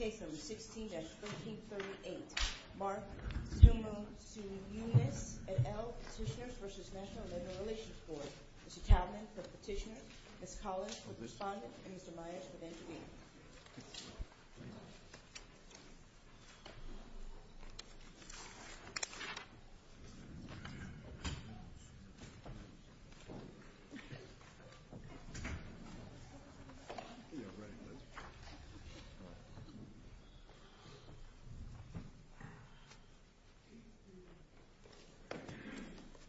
16-1338 Mark Tamosiunas, NL Petitioners v. NLRB Mr. Kalman for Petitioner, Ms. Collins for Respondent, and Mr. Myers for the intervener. You may be ready, please. Mr. Kalman for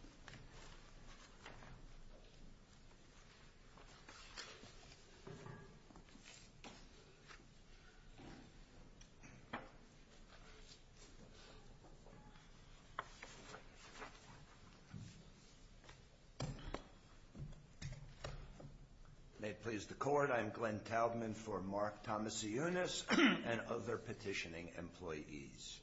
Petitioner, Ms. Collins for Respondent, and Mr. Myers for the intervener. Mark Tamosiunas and other petitioning employees.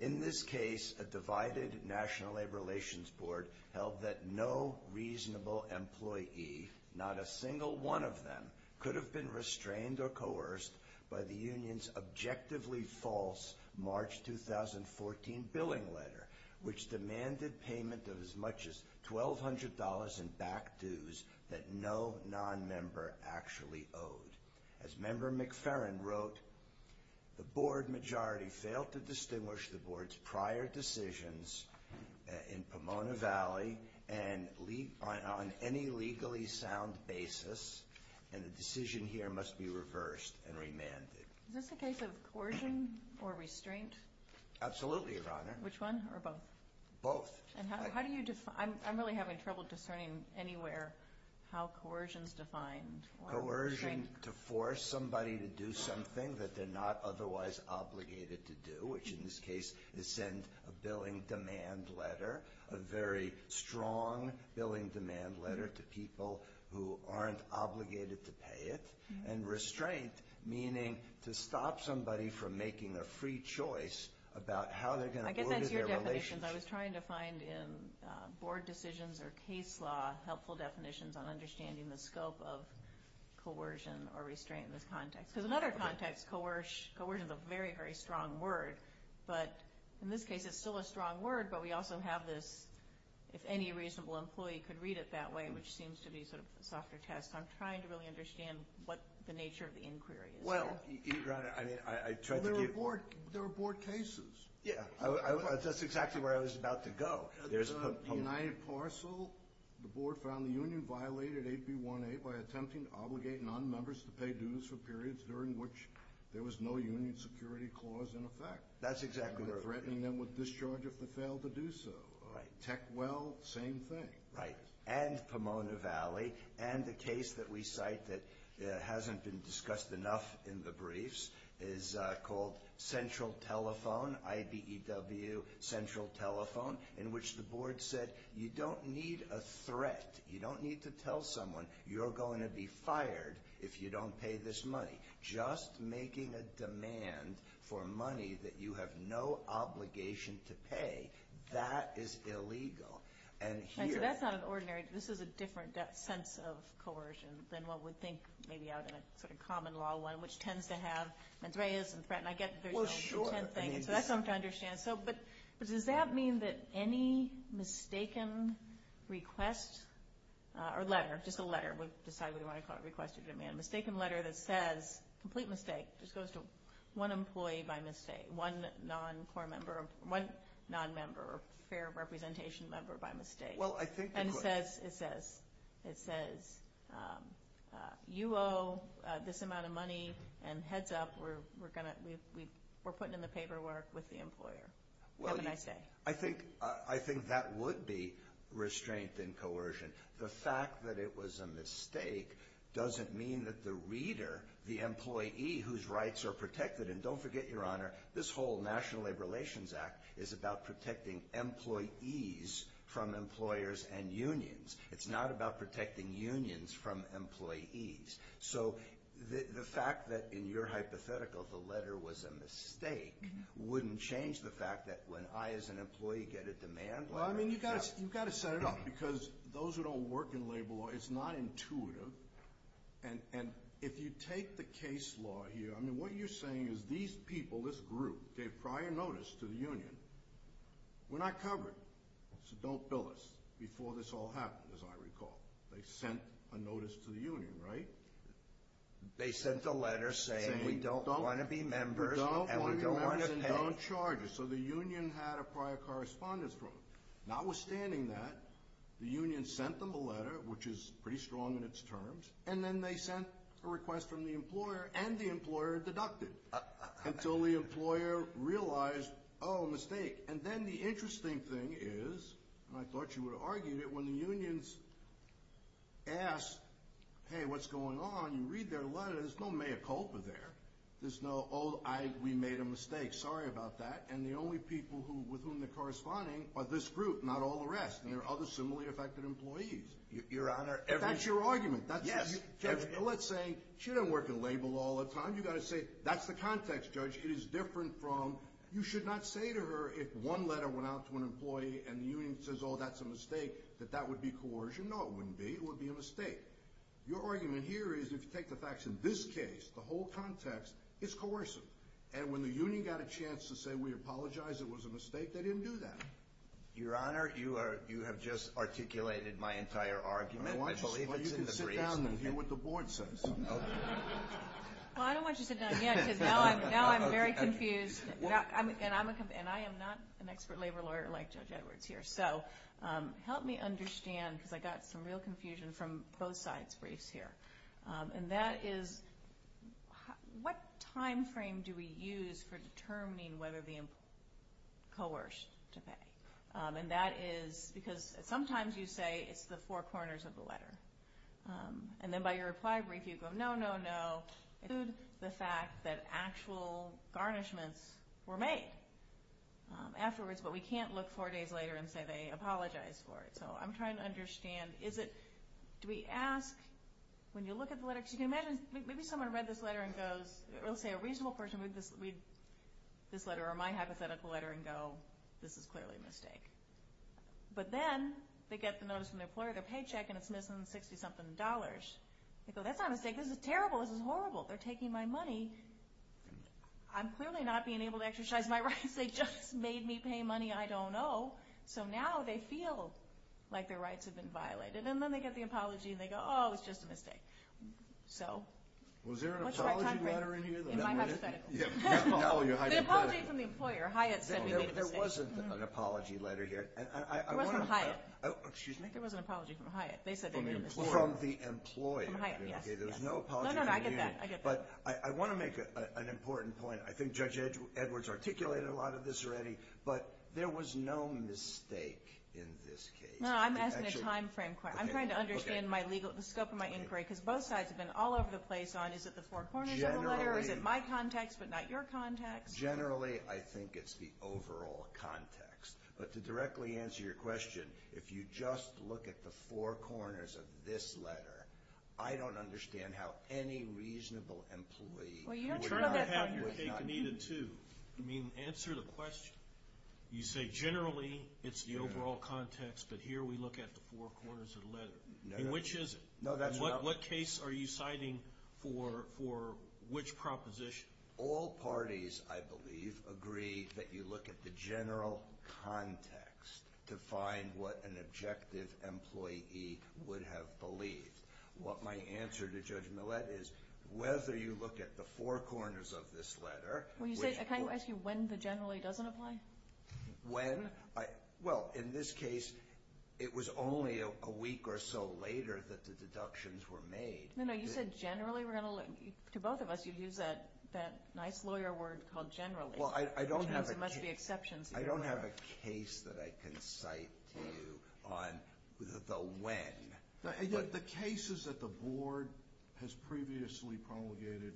In this case, a divided National Labor Relations Board held that no reasonable employee, not a single one of them, could have been restrained or coerced by the Union's objectively false March 2014 billing letter, which demanded payment of as much as $1,200 in back dues that no nonmember actually owed. As Member McFerrin wrote, the Board majority failed to distinguish the Board's prior decisions in Pomona Valley on any legally sound basis, and the decision here must be reversed and remanded. Is this a case of coercion or restraint? Absolutely, Your Honor. Which one, or both? Both. And how do you define – I'm really having trouble discerning anywhere how coercion is defined. Coercion to force somebody to do something that they're not otherwise obligated to do, which in this case is send a billing demand letter, a very strong billing demand letter to people who aren't obligated to pay it. And restraint, meaning to stop somebody from making a free choice about how they're going to order their relationship. I guess that's your definition. I was trying to find in Board decisions or case law helpful definitions on understanding the scope of coercion or restraint in this context. Because in other contexts, coercion is a very, very strong word, but in this case it's still a strong word, but we also have this if any reasonable employee could read it that way, which seems to be sort of a softer test. So I'm trying to really understand what the nature of the inquiry is here. Well, Your Honor, I mean, I tried to give – Well, there were Board cases. Yeah, that's exactly where I was about to go. The United Parcel, the Board found the union violated 8B18 by attempting to obligate nonmembers to pay dues for periods during which there was no union security clause in effect. That's exactly right. Threatening them with discharge if they failed to do so. Right. Tech well, same thing. Right. And Pomona Valley, and the case that we cite that hasn't been discussed enough in the briefs is called Central Telephone, IBEW Central Telephone, in which the Board said you don't need a threat, you don't need to tell someone you're going to be fired if you don't pay this money. Just making a demand for money that you have no obligation to pay, that is illegal. And here – And so that's not an ordinary – this is a different sense of coercion than what we think maybe out in a sort of common law one, which tends to have – Well, sure. So that's something to understand. But does that mean that any mistaken request or letter – just a letter, decide whether you want to call it a request or demand – A mistaken letter that says, complete mistake, just goes to one employee by mistake, one non-core member, one non-member or fair representation member by mistake. Well, I think – And says, it says, it says, you owe this amount of money and heads up, we're going to – we're putting in the paperwork with the employer. Have a nice day. Well, I think that would be restraint and coercion. The fact that it was a mistake doesn't mean that the reader, the employee whose rights are protected – and don't forget, Your Honor, this whole National Labor Relations Act is about protecting employees from employers and unions. It's not about protecting unions from employees. So the fact that in your hypothetical the letter was a mistake wouldn't change the fact that when I as an employee get a demand letter – I don't work in labor law. It's not intuitive. And if you take the case law here, I mean, what you're saying is these people, this group, gave prior notice to the union. We're not covered. So don't bill us before this all happens, as I recall. They sent a notice to the union, right? They sent a letter saying we don't want to be members and we don't want to pay. We don't want to be members and don't charge us. So the union had a prior correspondence. Notwithstanding that, the union sent them a letter, which is pretty strong in its terms, and then they sent a request from the employer and the employer deducted until the employer realized, oh, mistake. And then the interesting thing is, and I thought you would argue it, when the unions ask, hey, what's going on, you read their letter, there's no mea culpa there. There's no, oh, we made a mistake. Sorry about that. And the only people with whom they're corresponding are this group, not all the rest. And there are other similarly affected employees. Your Honor, every – But that's your argument. Yes. Let's say she doesn't work at Label all the time. You've got to say that's the context, Judge. It is different from you should not say to her if one letter went out to an employee and the union says, oh, that's a mistake, that that would be coercion. No, it wouldn't be. It would be a mistake. Your argument here is if you take the facts in this case, the whole context is coercive. And when the union got a chance to say we apologize, it was a mistake, they didn't do that. Your Honor, you have just articulated my entire argument. I believe it's in the briefs. Well, you can sit down and hear what the board says. Well, I don't want you to sit down yet because now I'm very confused. And I am not an expert labor lawyer like Judge Edwards here. So help me understand because I got some real confusion from both sides' briefs here. And that is what time frame do we use for determining whether the employee is coerced to pay? And that is because sometimes you say it's the four corners of the letter. And then by your reply brief you go, no, no, no. Include the fact that actual garnishments were made afterwards, but we can't look four days later and say they apologized for it. So I'm trying to understand, is it, do we ask, when you look at the letter, because you can imagine, maybe someone read this letter and goes, let's say a reasonable person would read this letter or my hypothetical letter and go, this is clearly a mistake. But then they get the notice from their employer, their paycheck, and it's missing 60-something dollars. They go, that's not a mistake, this is terrible, this is horrible, they're taking my money. I'm clearly not being able to exercise my rights, they just made me pay money I don't owe. So now they feel like their rights have been violated. And then they get the apology and they go, oh, it's just a mistake. Was there an apology letter in here? In my hypothetical. An apology from the employer. Hyatt said we made a mistake. There wasn't an apology letter here. It was from Hyatt. Excuse me? There was an apology from Hyatt. They said they made a mistake. From the employer. From Hyatt, yes. No, no, I get that. But I want to make an important point. I think Judge Edwards articulated a lot of this already. But there was no mistake in this case. No, I'm asking a time frame question. I'm trying to understand the scope of my inquiry because both sides have been all over the place on is it the four corners of the letter or is it my context but not your context? Generally, I think it's the overall context. But to directly answer your question, if you just look at the four corners of this letter, I don't understand how any reasonable employee would not have your take needed, too. I mean, answer the question. You say generally it's the overall context, but here we look at the four corners of the letter. Which is it? What case are you citing for which proposition? All parties, I believe, agree that you look at the general context to find what an objective employee would have believed. My answer to Judge Millett is whether you look at the four corners of this letter. Can I ask you when the generally doesn't apply? When? Well, in this case, it was only a week or so later that the deductions were made. No, no, you said generally. To both of us, you used that nice lawyer word called generally. Well, I don't have a case that I can cite to you on the when. The cases that the Board has previously promulgated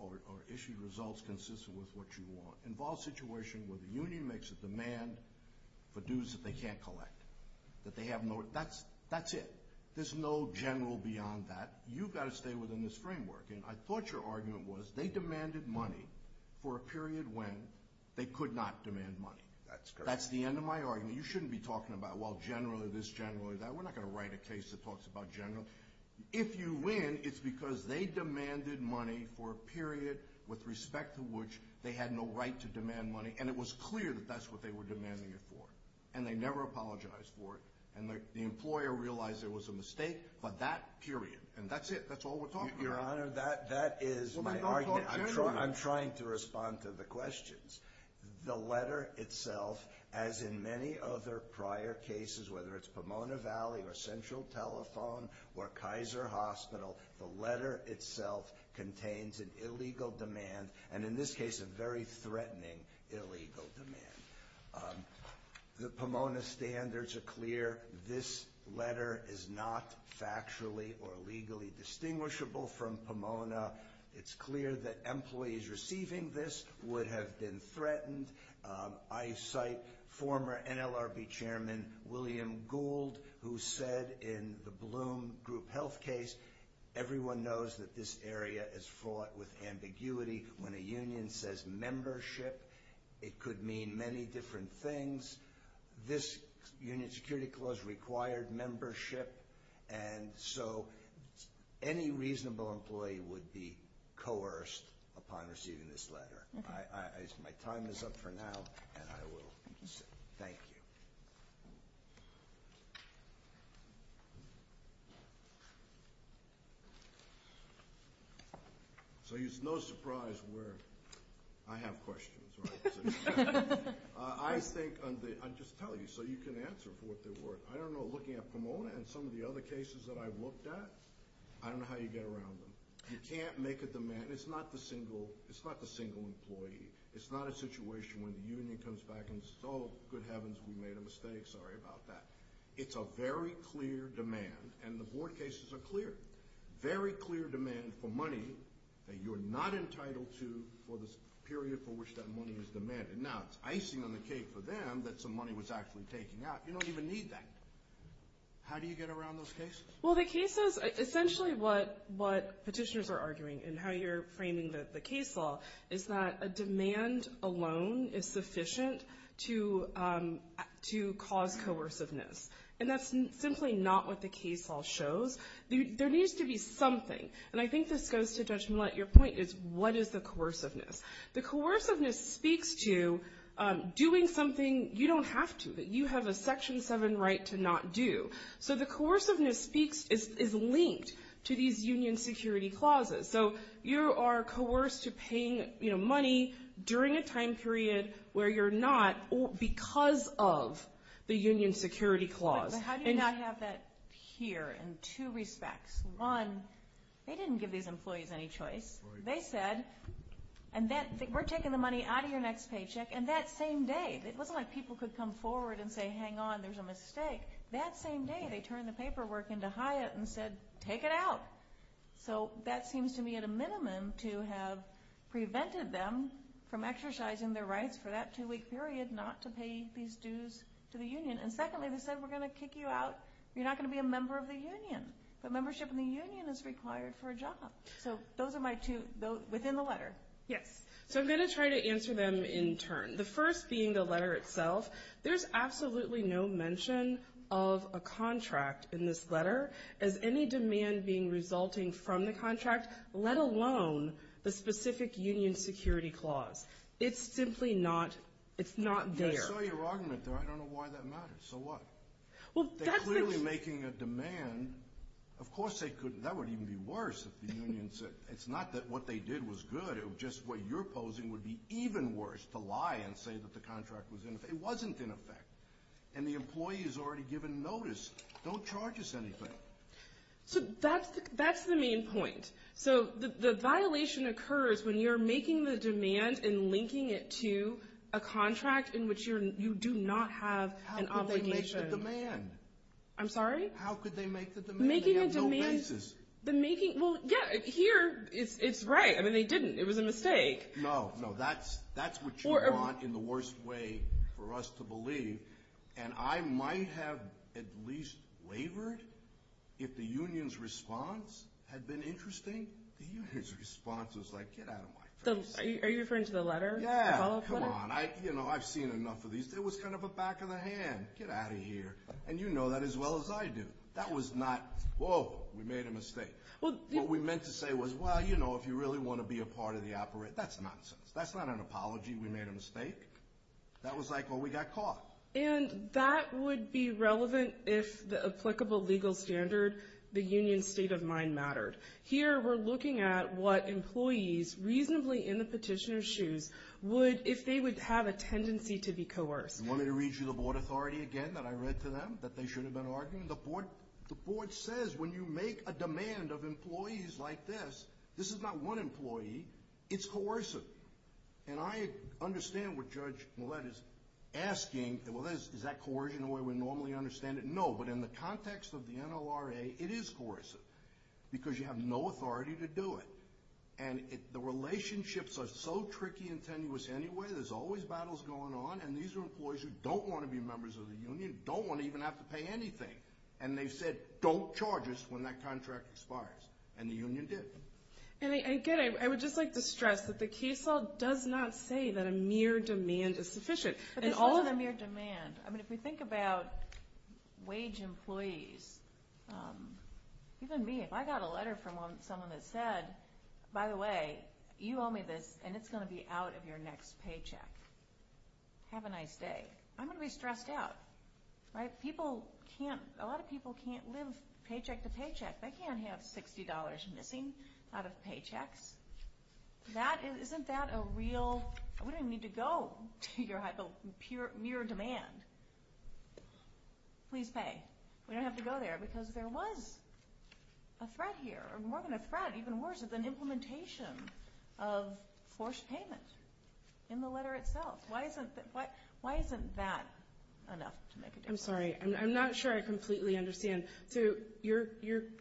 or issued results consistent with what you want involve situations where the union makes a demand for dues that they can't collect. That's it. There's no general beyond that. You've got to stay within this framework. And I thought your argument was they demanded money for a period when they could not demand money. That's correct. That's the end of my argument. You shouldn't be talking about, well, generally this, generally that. We're not going to write a case that talks about generally. If you win, it's because they demanded money for a period with respect to which they had no right to demand money. And it was clear that that's what they were demanding it for. And they never apologized for it. And the employer realized it was a mistake by that period. And that's it. Your Honor, that is my argument. I'm trying to respond to the questions. The letter itself, as in many other prior cases, whether it's Pomona Valley or Central Telephone or Kaiser Hospital, the letter itself contains an illegal demand and, in this case, a very threatening illegal demand. The Pomona standards are clear. This letter is not factually or legally distinguishable from Pomona. It's clear that employees receiving this would have been threatened. I cite former NLRB Chairman William Gould, who said in the Bloom Group Health case, everyone knows that this area is fraught with ambiguity. When a union says membership, it could mean many different things. This union security clause required membership. And so any reasonable employee would be coerced upon receiving this letter. My time is up for now, and I will concede. Thank you. So it's no surprise where I have questions. I think I'm just telling you so you can answer for what they're worth. I don't know. Looking at Pomona and some of the other cases that I've looked at, I don't know how you get around them. You can't make a demand. It's not the single employee. It's not a situation when the union comes back and says, oh, good heavens, we made a mistake. Sorry about that. It's a very clear demand, and the board cases are clear. Very clear demand for money that you're not entitled to for the period for which that money is demanded. Now it's icing on the cake for them that some money was actually taken out. You don't even need that. How do you get around those cases? Well, the cases, essentially what petitioners are arguing and how you're framing the case law, is that a demand alone is sufficient to cause coerciveness. And that's simply not what the case law shows. There needs to be something. And I think this goes to Judge Millett. Your point is, what is the coerciveness? The coerciveness speaks to doing something you don't have to, that you have a Section 7 right to not do. So the coerciveness is linked to these union security clauses. So you are coerced to paying money during a time period where you're not because of the union security clause. But how do you not have that here in two respects? One, they didn't give these employees any choice. They said, we're taking the money out of your next paycheck. And that same day, it wasn't like people could come forward and say, hang on, there's a mistake. That same day, they turned the paperwork into Hyatt and said, take it out. So that seems to me at a minimum to have prevented them from exercising their rights for that two-week period not to pay these dues to the union. And secondly, they said, we're going to kick you out. You're not going to be a member of the union. But membership in the union is required for a job. So those are my two, within the letter. Yes. So I'm going to try to answer them in turn. The first being the letter itself. There's absolutely no mention of a contract in this letter as any demand being resulting from the contract, let alone the specific union security clause. It's simply not, it's not there. I saw your argument there. I don't know why that matters. So what? They're clearly making a demand. Of course they couldn't. That would even be worse if the union said, it's not that what they did was good. It was just what you're opposing would be even worse, to lie and say that the contract was in effect. It wasn't in effect. And the employee has already given notice. Don't charge us anything. So that's the main point. So the violation occurs when you're making the demand and linking it to a contract in which you do not have an obligation. How could they make the demand? I'm sorry? How could they make the demand? Making a demand. They have no basis. Well, yeah, here it's right. I mean, they didn't. It was a mistake. No, no. That's what you want in the worst way for us to believe. And I might have at least wavered if the union's response had been interesting. The union's response was like, get out of my face. Are you referring to the letter? Yeah. The follow-up letter? Come on. I've seen enough of these. There was kind of a back of the hand. Get out of here. And you know that as well as I do. That was not, whoa, we made a mistake. What we meant to say was, well, you know, if you really want to be a part of the operation. That's nonsense. That's not an apology. We made a mistake. That was like, well, we got caught. And that would be relevant if the applicable legal standard, the union's state of mind mattered. Here we're looking at what employees reasonably in the petitioner's shoes would, if they would have a tendency to be coerced. Let me read you the board authority again that I read to them that they should have been arguing. The board says when you make a demand of employees like this, this is not one employee. It's coercive. And I understand what Judge Millett is asking. Is that coercion the way we normally understand it? No. But in the context of the NLRA, it is coercive because you have no authority to do it. And the relationships are so tricky and tenuous anyway. There's always battles going on. And these are employees who don't want to be members of the union, don't want to even have to pay anything. And they've said, don't charge us when that contract expires. And the union did. And again, I would just like to stress that the case law does not say that a mere demand is sufficient. But this isn't a mere demand. I mean, if we think about wage employees, even me, if I got a letter from someone that said, by the way, you owe me this and it's going to be out of your next paycheck, have a nice day. I'm going to be stressed out. People can't, a lot of people can't live paycheck to paycheck. They can't have $60 missing out of paychecks. Isn't that a real, we don't even need to go to your mere demand. Please pay. We don't have to go there because there was a threat here, or more than a threat, even worse, an implementation of forced payment in the letter itself. Why isn't that enough to make a difference? I'm sorry. I'm not sure I completely understand. So your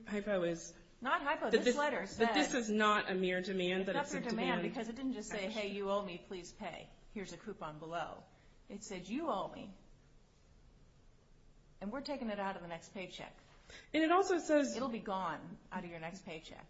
hypo is. Not hypo. This letter says. That this is not a mere demand. It's not a mere demand because it didn't just say, hey, you owe me, please pay. Here's a coupon below. It said, you owe me. And we're taking it out of the next paycheck. And it also says. It'll be gone out of your next paycheck.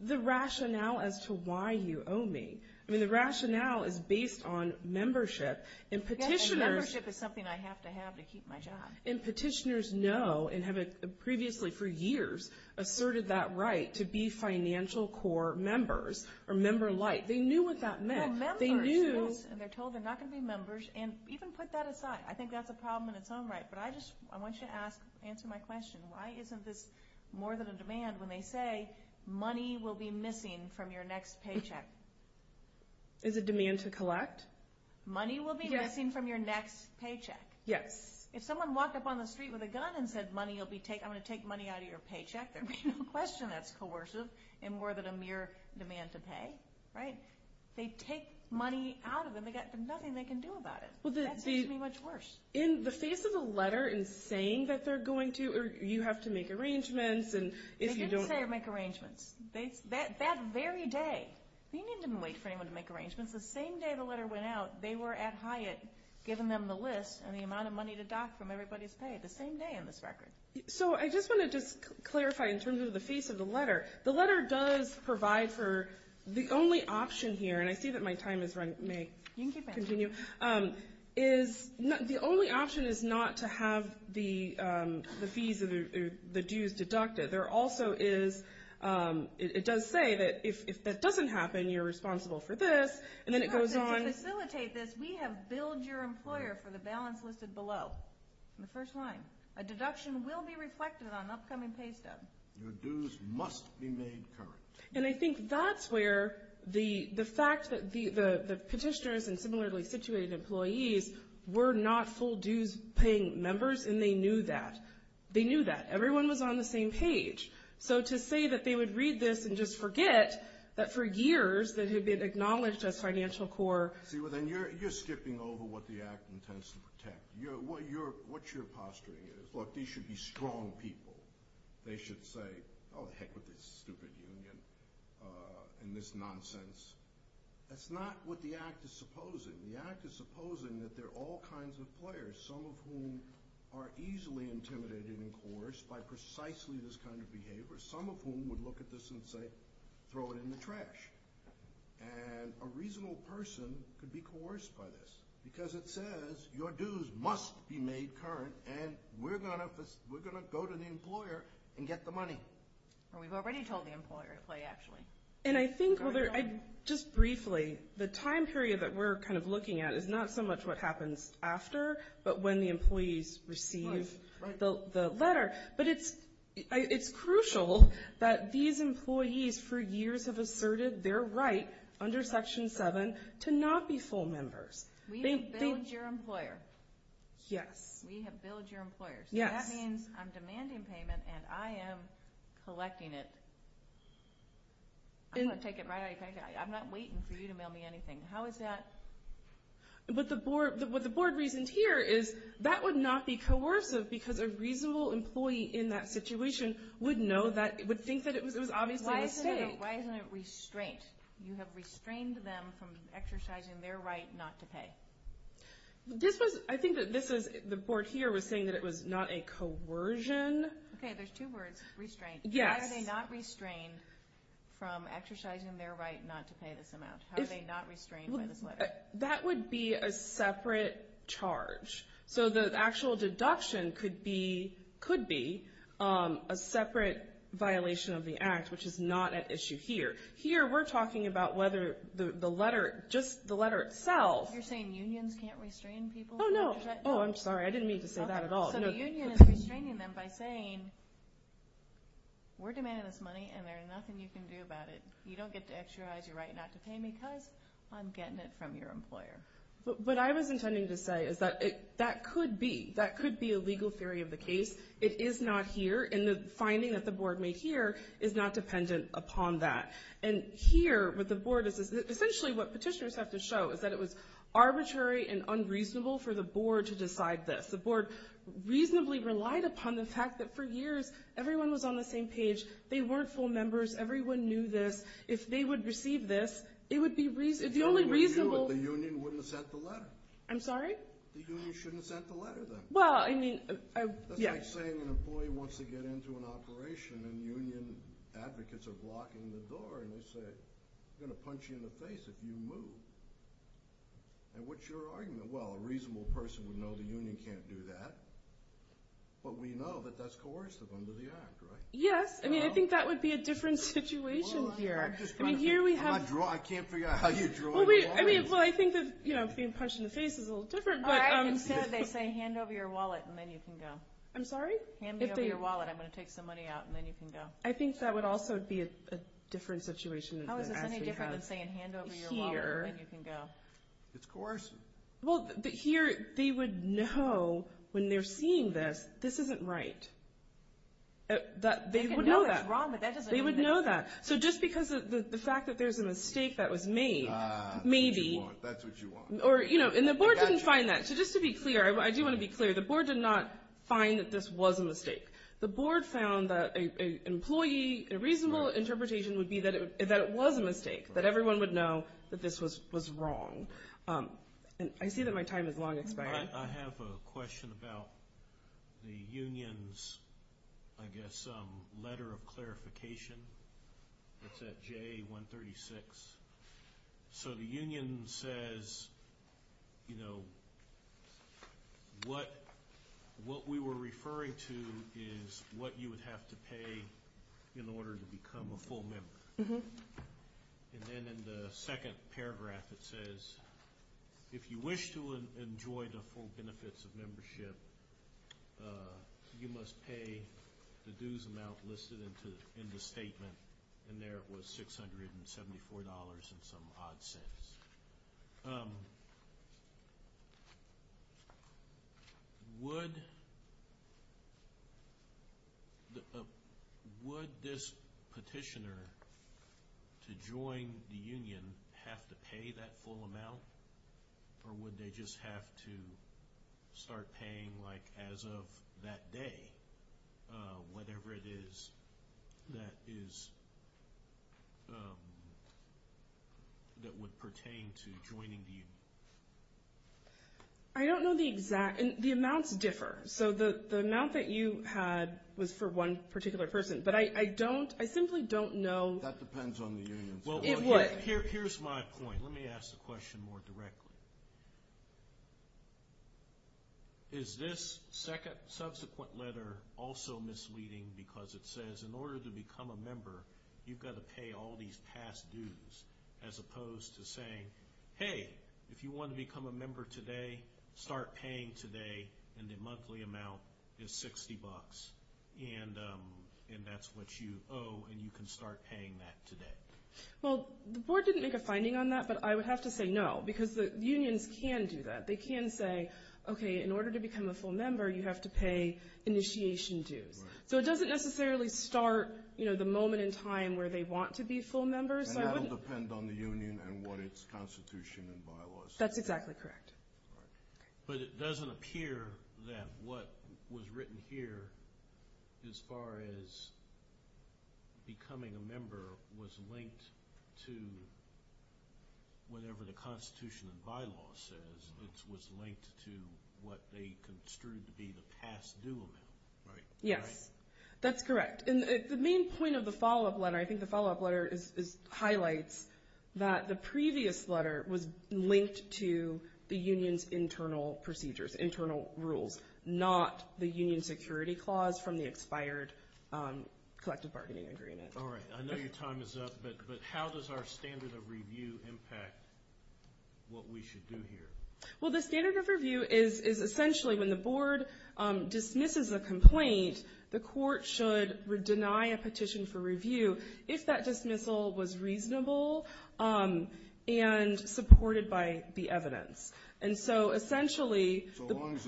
The rationale as to why you owe me. I mean, the rationale is based on membership. And petitioners. Yes, and membership is something I have to have to keep my job. And petitioners know and have previously for years asserted that right to be financial core members. Or member-like. They knew what that meant. Well, members. They knew. And they're told they're not going to be members. And even put that aside. I think that's a problem in its own right. But I just want you to answer my question. Why isn't this more than a demand when they say money will be missing from your next paycheck? Is it demand to collect? Money will be missing from your next paycheck. Yes. If someone walked up on the street with a gun and said money will be taken. I'm going to take money out of your paycheck. There'd be no question that's coercive. And more than a mere demand to pay. Right? They take money out of them. They've got nothing they can do about it. That seems to be much worse. In the face of the letter and saying that they're going to. Or you have to make arrangements. They didn't say make arrangements. That very day. The union didn't wait for anyone to make arrangements. The same day the letter went out, they were at Hyatt giving them the list. And the amount of money to dock from everybody's pay. The same day on this record. So I just want to just clarify in terms of the face of the letter. The letter does provide for the only option here. And I see that my time may continue. The only option is not to have the fees, the dues deducted. There also is. It does say that if that doesn't happen, you're responsible for this. And then it goes on. To facilitate this, we have billed your employer for the balance listed below. In the first line. A deduction will be reflected on upcoming pay stub. Your dues must be made current. And I think that's where the fact that the petitioners and similarly situated employees were not full dues paying members. And they knew that. They knew that. Everyone was on the same page. So to say that they would read this and just forget that for years that had been acknowledged as financial core. See, well, then you're skipping over what the act intends to protect. What you're posturing is, look, these should be strong people. They should say, oh, heck with this stupid union and this nonsense. That's not what the act is supposing. The act is supposing that there are all kinds of players, some of whom are easily intimidated and coerced by precisely this kind of behavior, some of whom would look at this and say, throw it in the trash. And a reasonable person could be coerced by this. Because it says your dues must be made current, and we're going to go to the employer and get the money. We've already told the employer to play, actually. And I think, just briefly, the time period that we're kind of looking at is not so much what happens after, but when the employees receive the letter. But it's crucial that these employees, for years, have asserted their right under Section 7 to not be full members. We have billed your employer. Yes. We have billed your employer. Yes. So that means I'm demanding payment and I am collecting it. I'm going to take it right out of your pocket. I'm not waiting for you to mail me anything. How is that? What the board reasoned here is that would not be coercive because a reasonable employee in that situation would know that, would think that it was obviously a mistake. Why isn't it restraint? You have restrained them from exercising their right not to pay. I think the board here was saying that it was not a coercion. Okay, there's two words, restraint. Yes. Why are they not restrained from exercising their right not to pay this amount? How are they not restrained by this letter? That would be a separate charge. So the actual deduction could be a separate violation of the act, which is not at issue here. Here we're talking about whether the letter, just the letter itself. You're saying unions can't restrain people? Oh, no. Oh, I'm sorry. I didn't mean to say that at all. So the union is restraining them by saying we're demanding this money and there's nothing you can do about it. You don't get to exercise your right not to pay because I'm getting it from your employer. What I was intending to say is that that could be. That could be a legal theory of the case. It is not here. And the finding that the board made here is not dependent upon that. And here what the board is, essentially what petitioners have to show is that it was arbitrary and unreasonable for the board to decide this. The board reasonably relied upon the fact that for years everyone was on the same page. They weren't full members. Everyone knew this. If they would receive this, it would be reasonable. The only reason the union wouldn't have sent the letter. I'm sorry? The union shouldn't have sent the letter then. Well, I mean, yes. That's like saying an employee wants to get into an operation and union advocates are blocking the door and you say I'm going to punch you in the face if you move. And what's your argument? Well, a reasonable person would know the union can't do that. But we know that that's coercive under the Act, right? Yes. I mean, I think that would be a different situation here. I can't figure out how you draw the line. Well, I think that being punched in the face is a little different. They say hand over your wallet and then you can go. I'm sorry? Hand me over your wallet. I'm going to take some money out and then you can go. I think that would also be a different situation. How is this any different than saying hand over your wallet and then you can go? It's coercive. Well, here they would know when they're seeing this, this isn't right. They would know that. They can know what's wrong, but that doesn't mean they know. They would know that. So just because of the fact that there's a mistake that was made, maybe. That's what you want. Or, you know, and the board didn't find that. So just to be clear, I do want to be clear, the board did not find that this was a mistake. The board found that an employee, a reasonable interpretation would be that it was a mistake, that everyone would know that this was wrong. I see that my time is long expiring. I have a question about the union's, I guess, letter of clarification. It's at J136. So the union says, you know, what we were referring to is what you would have to pay in order to become a full member. And then in the second paragraph it says, if you wish to enjoy the full benefits of membership, you must pay the dues amount listed in the statement, and there it was $674 and some odd cents. Would this petitioner, to join the union, have to pay that full amount? Or would they just have to start paying, like, as of that day, whatever it is that would pertain to joining the union? I don't know the exact, and the amounts differ. So the amount that you had was for one particular person. But I don't, I simply don't know. That depends on the union. It would. Here's my point. Let me ask the question more directly. Is this subsequent letter also misleading because it says, in order to become a member, you've got to pay all these past dues, as opposed to saying, hey, if you want to become a member today, start paying today, and the monthly amount is $60, and that's what you owe, and you can start paying that today. Well, the board didn't make a finding on that, but I would have to say no, because the unions can do that. They can say, okay, in order to become a full member, you have to pay initiation dues. So it doesn't necessarily start, you know, the moment in time where they want to be full members. And that will depend on the union and what its constitution and bylaws say. That's exactly correct. But it doesn't appear that what was written here, as far as becoming a member, was linked to whatever the constitution and bylaw says, which was linked to what they construed to be the past due amount, right? Yes, that's correct. And the main point of the follow-up letter, I think the follow-up letter highlights that the previous letter was linked to the union's internal procedures, internal rules, not the union security clause from the expired collective bargaining agreement. All right. I know your time is up, but how does our standard of review impact what we should do here? Well, the standard of review is essentially when the board dismisses a complaint, the court should deny a petition for review if that dismissal was reasonable and supported by the evidence. And so essentially the board's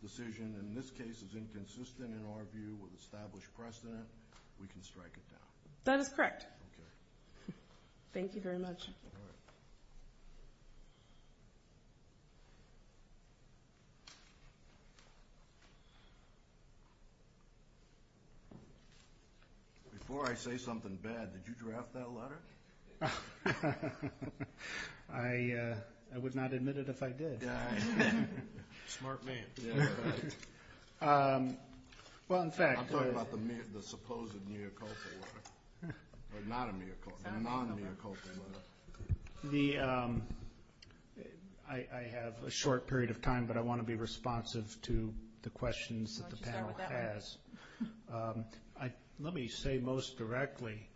decision in this case is inconsistent in our view with established precedent. We can strike it down. That is correct. Thank you very much. All right. Before I say something bad, did you draft that letter? I would not admit it if I did. Smart man. Well, in fact. I'm talking about the supposed neocultural letter, not a neocultural, a non-neocultural letter. I have a short period of time, but I want to be responsive to the questions that the panel has. Let me say most directly,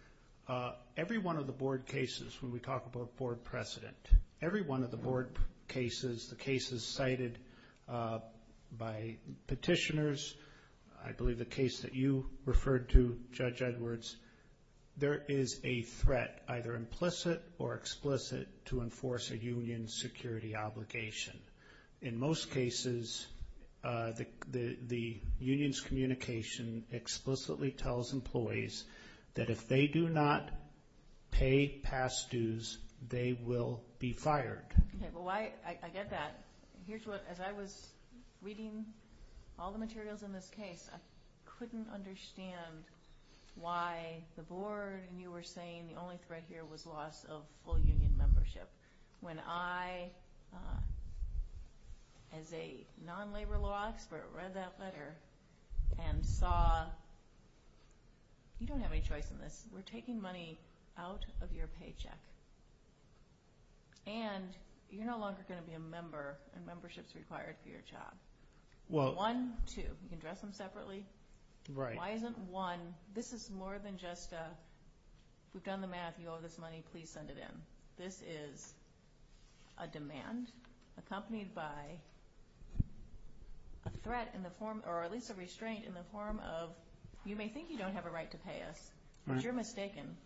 every one of the board cases when we talk about board precedent, every one of the board cases, the cases cited by petitioners, I believe the case that you referred to, Judge Edwards, there is a threat, either implicit or explicit, to enforce a union security obligation. In most cases, the union's communication explicitly tells employees that if they do not pay past dues, they will be fired. I get that. Here's what, as I was reading all the materials in this case, I couldn't understand why the board knew we're saying the only threat here was loss of full union membership when I, as a non-labor law expert, read that letter and saw you don't have any choice in this. We're taking money out of your paycheck. And you're no longer going to be a member, and membership's required for your job. One, two, you can address them separately. Why isn't one, this is more than just a, we've done the math, you owe this money, please send it in. This is a demand accompanied by a threat in the form, or at least a restraint in the form of, you may think you don't have a right to pay us, but you're mistaken.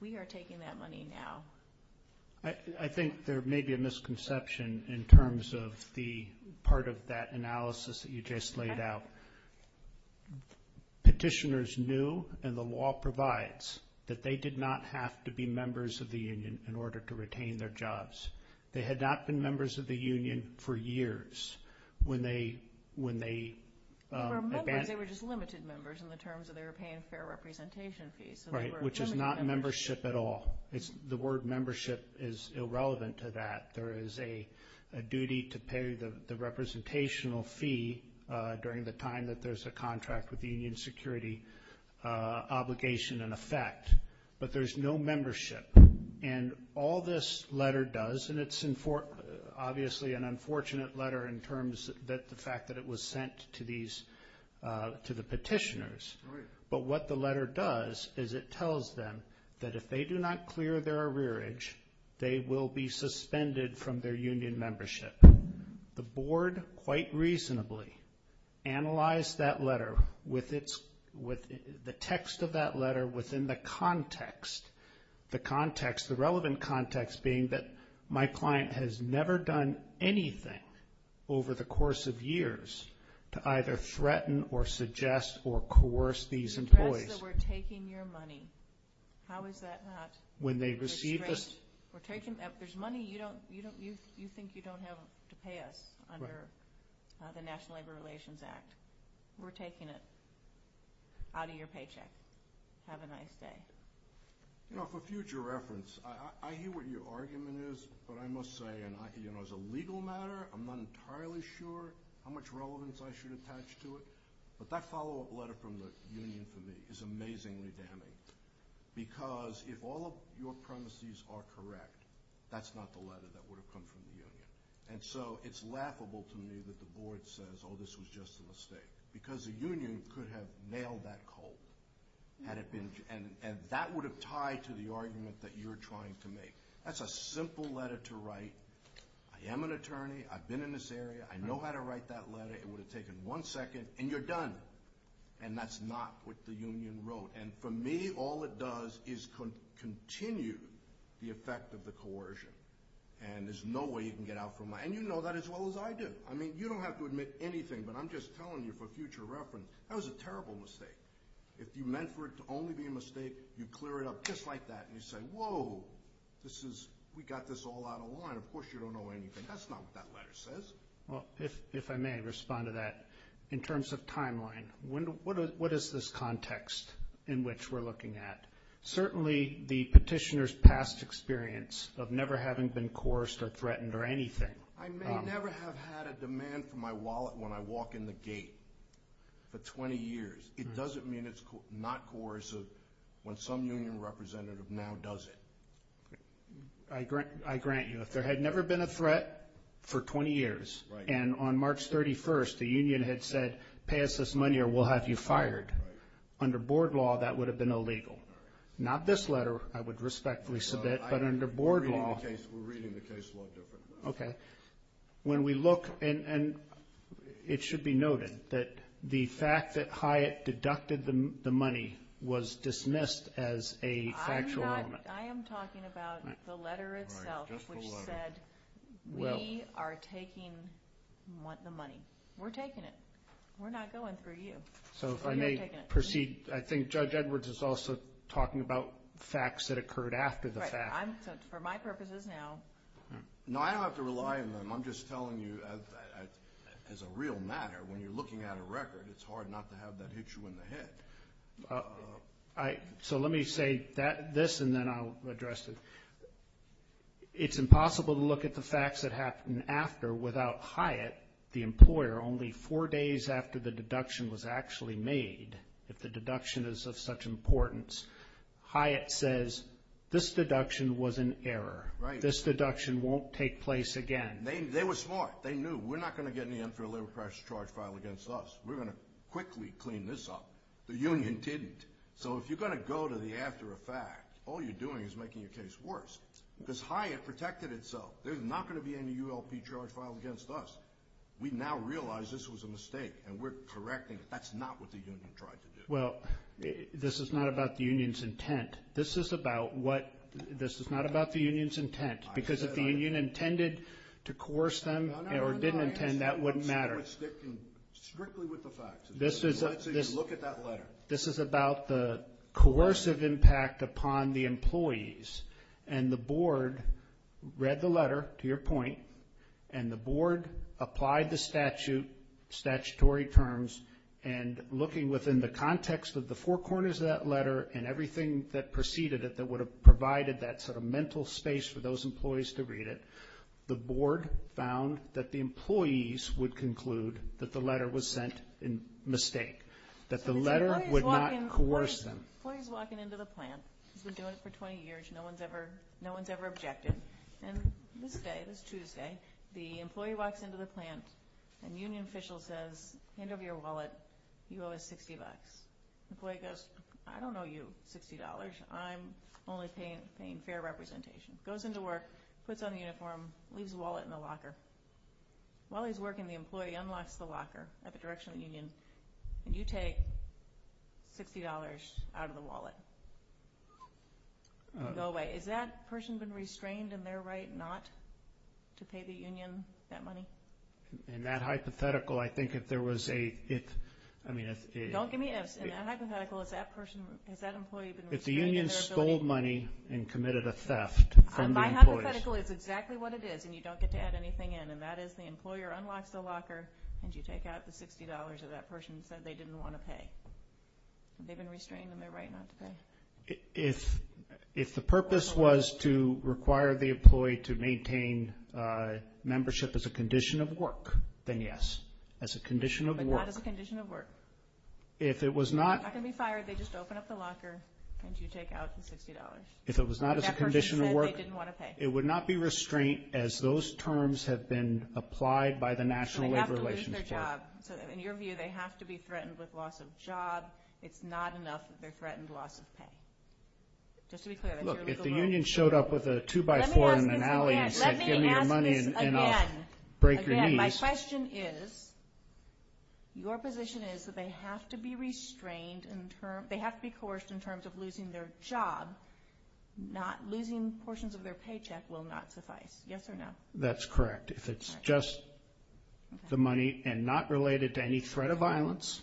We are taking that money now. I think there may be a misconception in terms of the part of that analysis that you just laid out. Petitioners knew, and the law provides, that they did not have to be members of the union in order to retain their jobs. They had not been members of the union for years when they advanced. They were members, they were just limited members in the terms of they were paying fair representation fees. Right, which is not membership at all. The word membership is irrelevant to that. There is a duty to pay the representational fee during the time that there's a contract with the union security obligation in effect. But there's no membership. And all this letter does, and it's obviously an unfortunate letter in terms of the fact that it was sent to the petitioners. But what the letter does is it tells them that if they do not clear their arrearage, they will be suspended from their union membership. The board, quite reasonably, analyzed that letter with the text of that letter within the context, the context, the relevant context being that my client has never done anything over the course of years to either threaten or suggest or coerce these employees. It's threats that we're taking your money. How is that not a threat? When they receive this. There's money you think you don't have to pay us under the National Labor Relations Act. We're taking it out of your paycheck. Have a nice day. You know, for future reference, I hear what your argument is, but I must say, and as a legal matter, I'm not entirely sure how much relevance I should attach to it. But that follow-up letter from the union for me is amazingly damning. Because if all of your premises are correct, that's not the letter that would have come from the union. And so it's laughable to me that the board says, oh, this was just a mistake. Because the union could have nailed that cold. And that would have tied to the argument that you're trying to make. That's a simple letter to write. I am an attorney. I've been in this area. I know how to write that letter. It would have taken one second, and you're done. And that's not what the union wrote. And for me, all it does is continue the effect of the coercion. And there's no way you can get out from that. And you know that as well as I do. I mean, you don't have to admit anything, but I'm just telling you for future reference, that was a terrible mistake. If you meant for it to only be a mistake, you clear it up just like that. And you say, whoa, we got this all out of line. Of course you don't know anything. That's not what that letter says. Well, if I may respond to that, in terms of timeline, what is this context in which we're looking at? Certainly the petitioner's past experience of never having been coerced or threatened or anything. I may never have had a demand for my wallet when I walk in the gate for 20 years. It doesn't mean it's not coercive when some union representative now does it. I grant you, if there had never been a threat for 20 years, and on March 31st the union had said, pay us this money or we'll have you fired, under board law that would have been illegal. Not this letter, I would respectfully submit, but under board law. We're reading the case law differently. Okay. When we look, and it should be noted that the fact that Hyatt deducted the money was dismissed as a factual element. I am talking about the letter itself which said we are taking the money. We're taking it. We're not going through you. So if I may proceed, I think Judge Edwards is also talking about facts that occurred after the fact. For my purposes now. No, I don't have to rely on them. I'm just telling you as a real matter, when you're looking at a record, it's hard not to have that hit you in the head. So let me say this and then I'll address it. It's impossible to look at the facts that happened after without Hyatt, the employer, only four days after the deduction was actually made, if the deduction is of such importance. Hyatt says this deduction was an error. Right. This deduction won't take place again. They were smart. They knew we're not going to get any unfair labor price charge filed against us. We're going to quickly clean this up. The union didn't. So if you're going to go to the after the fact, all you're doing is making your case worse. Because Hyatt protected itself. There's not going to be any ULP charge filed against us. We now realize this was a mistake and we're correcting it. That's not what the union tried to do. Well, this is not about the union's intent. This is about what? This is not about the union's intent. Because if the union intended to coerce them or didn't intend, that wouldn't matter. Strictly with the facts. Let's say you look at that letter. This is about the coercive impact upon the employees. And the board read the letter, to your point, and the board applied the statute, statutory terms, and looking within the context of the four corners of that letter and everything that preceded it that would have provided that sort of mental space for those employees to read it, the board found that the employees would conclude that the letter was sent in mistake, that the letter would not coerce them. The employee's walking into the plant. He's been doing it for 20 years. No one's ever objected. And this day, this Tuesday, the employee walks into the plant and the union official says, hand over your wallet. You owe us $60. The employee goes, I don't owe you $60. I'm only paying fair representation. Goes into work, puts on the uniform, leaves the wallet in the locker. While he's working, the employee unlocks the locker at the direction of the union, and you take $60 out of the wallet and go away. Is that person been restrained in their right not to pay the union that money? In that hypothetical, I think if there was a – Don't give me an ifs. In that hypothetical, has that employee been restrained in their ability? If the union stole money and committed a theft from the employees. My hypothetical is exactly what it is, and you don't get to add anything in, and that is the employer unlocks the locker, and you take out the $60 that that person said they didn't want to pay. They've been restrained in their right not to pay. If the purpose was to require the employee to maintain membership as a condition of work, then yes. As a condition of work. But not as a condition of work. If it was not – They're not going to be fired. They just open up the locker, and you take out the $60. If it was not as a condition of work – That person said they didn't want to pay. It would not be restraint as those terms have been applied by the National Labor Relations Board. So they have to lose their job. So in your view, they have to be threatened with loss of job. It's not enough that they're threatened loss of pay. Just to be clear, that's your legal rule. Look, if the union showed up with a two-by-four in an alley and said, Give me your money and I'll break your knees. Again, my question is, your position is that they have to be restrained in terms – they have to be coerced in terms of losing their job. Losing portions of their paycheck will not suffice. Yes or no? That's correct. If it's just the money and not related to any threat of violence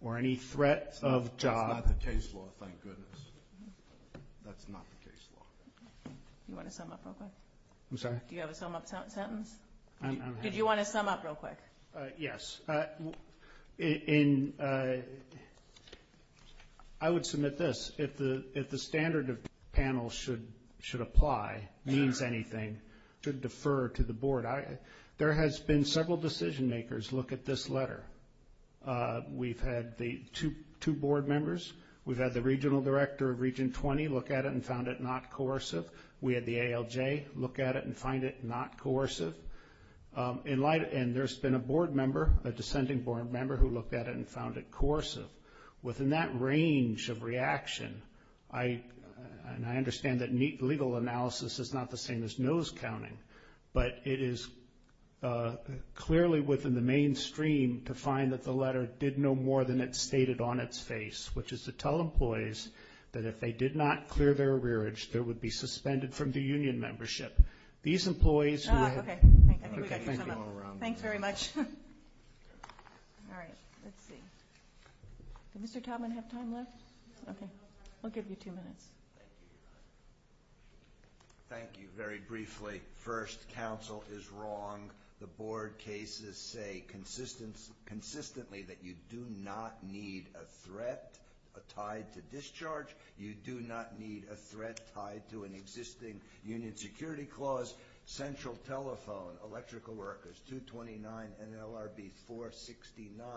or any threat of job – That's not the case law, thank goodness. That's not the case law. Do you want to sum up real quick? I'm sorry? Do you have a sum-up sentence? Did you want to sum up real quick? Yes. I would submit this. If the standard of panel should apply, means anything, should defer to the board. There has been several decision-makers look at this letter. We've had the two board members. We've had the regional director of Region 20 look at it and found it not coercive. We had the ALJ look at it and find it not coercive. And there's been a board member, a descending board member, who looked at it and found it coercive. Within that range of reaction, and I understand that legal analysis is not the same as nose counting, but it is clearly within the mainstream to find that the letter did no more than it stated on its face, which is to tell employees that if they did not clear their arrearage, they would be suspended from the union membership. These employees – Okay, I think we got your sum-up. Thanks very much. All right. Let's see. Did Mr. Taubman have time left? Okay. I'll give you two minutes. Thank you very briefly. First, counsel is wrong. The board cases say consistently that you do not need a threat tied to discharge. You do not need a threat tied to an existing union security clause. Central Telephone, Electrical Workers, 229 NLRB 469,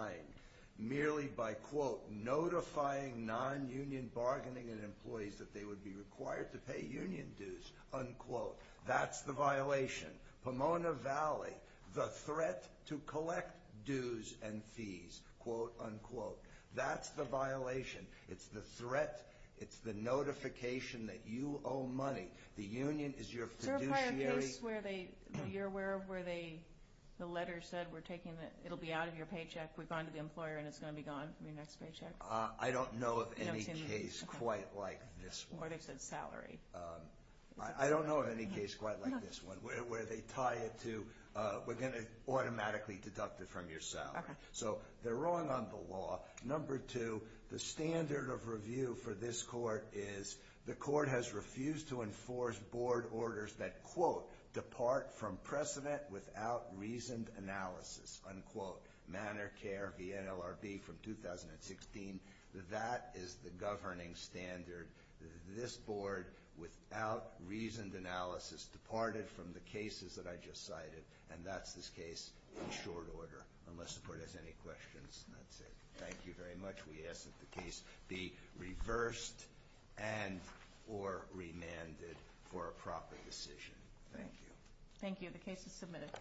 merely by, quote, notifying non-union bargaining and employees that they would be required to pay union dues, unquote. That's the violation. Pomona Valley, the threat to collect dues and fees, quote, unquote. That's the violation. It's the threat. It's the notification that you owe money. The union is your fiduciary – Is there a part of the case where they – that you're aware of where they – the letter said we're taking the – it'll be out of your paycheck. We've gone to the employer and it's going to be gone from your next paycheck? I don't know of any case quite like this one. Or they've said salary. I don't know of any case quite like this one where they tie it to we're going to automatically deduct it from your salary. So they're wrong on the law. Number two, the standard of review for this court is the court has refused to enforce board orders that, quote, depart from precedent without reasoned analysis, unquote. Manor Care, the NLRB from 2016, that is the governing standard. This board, without reasoned analysis, departed from the cases that I just cited, and that's this case in short order, unless the court has any questions. And that's it. Thank you very much. We ask that the case be reversed and or remanded for a proper decision. Thank you. Thank you. The case is submitted.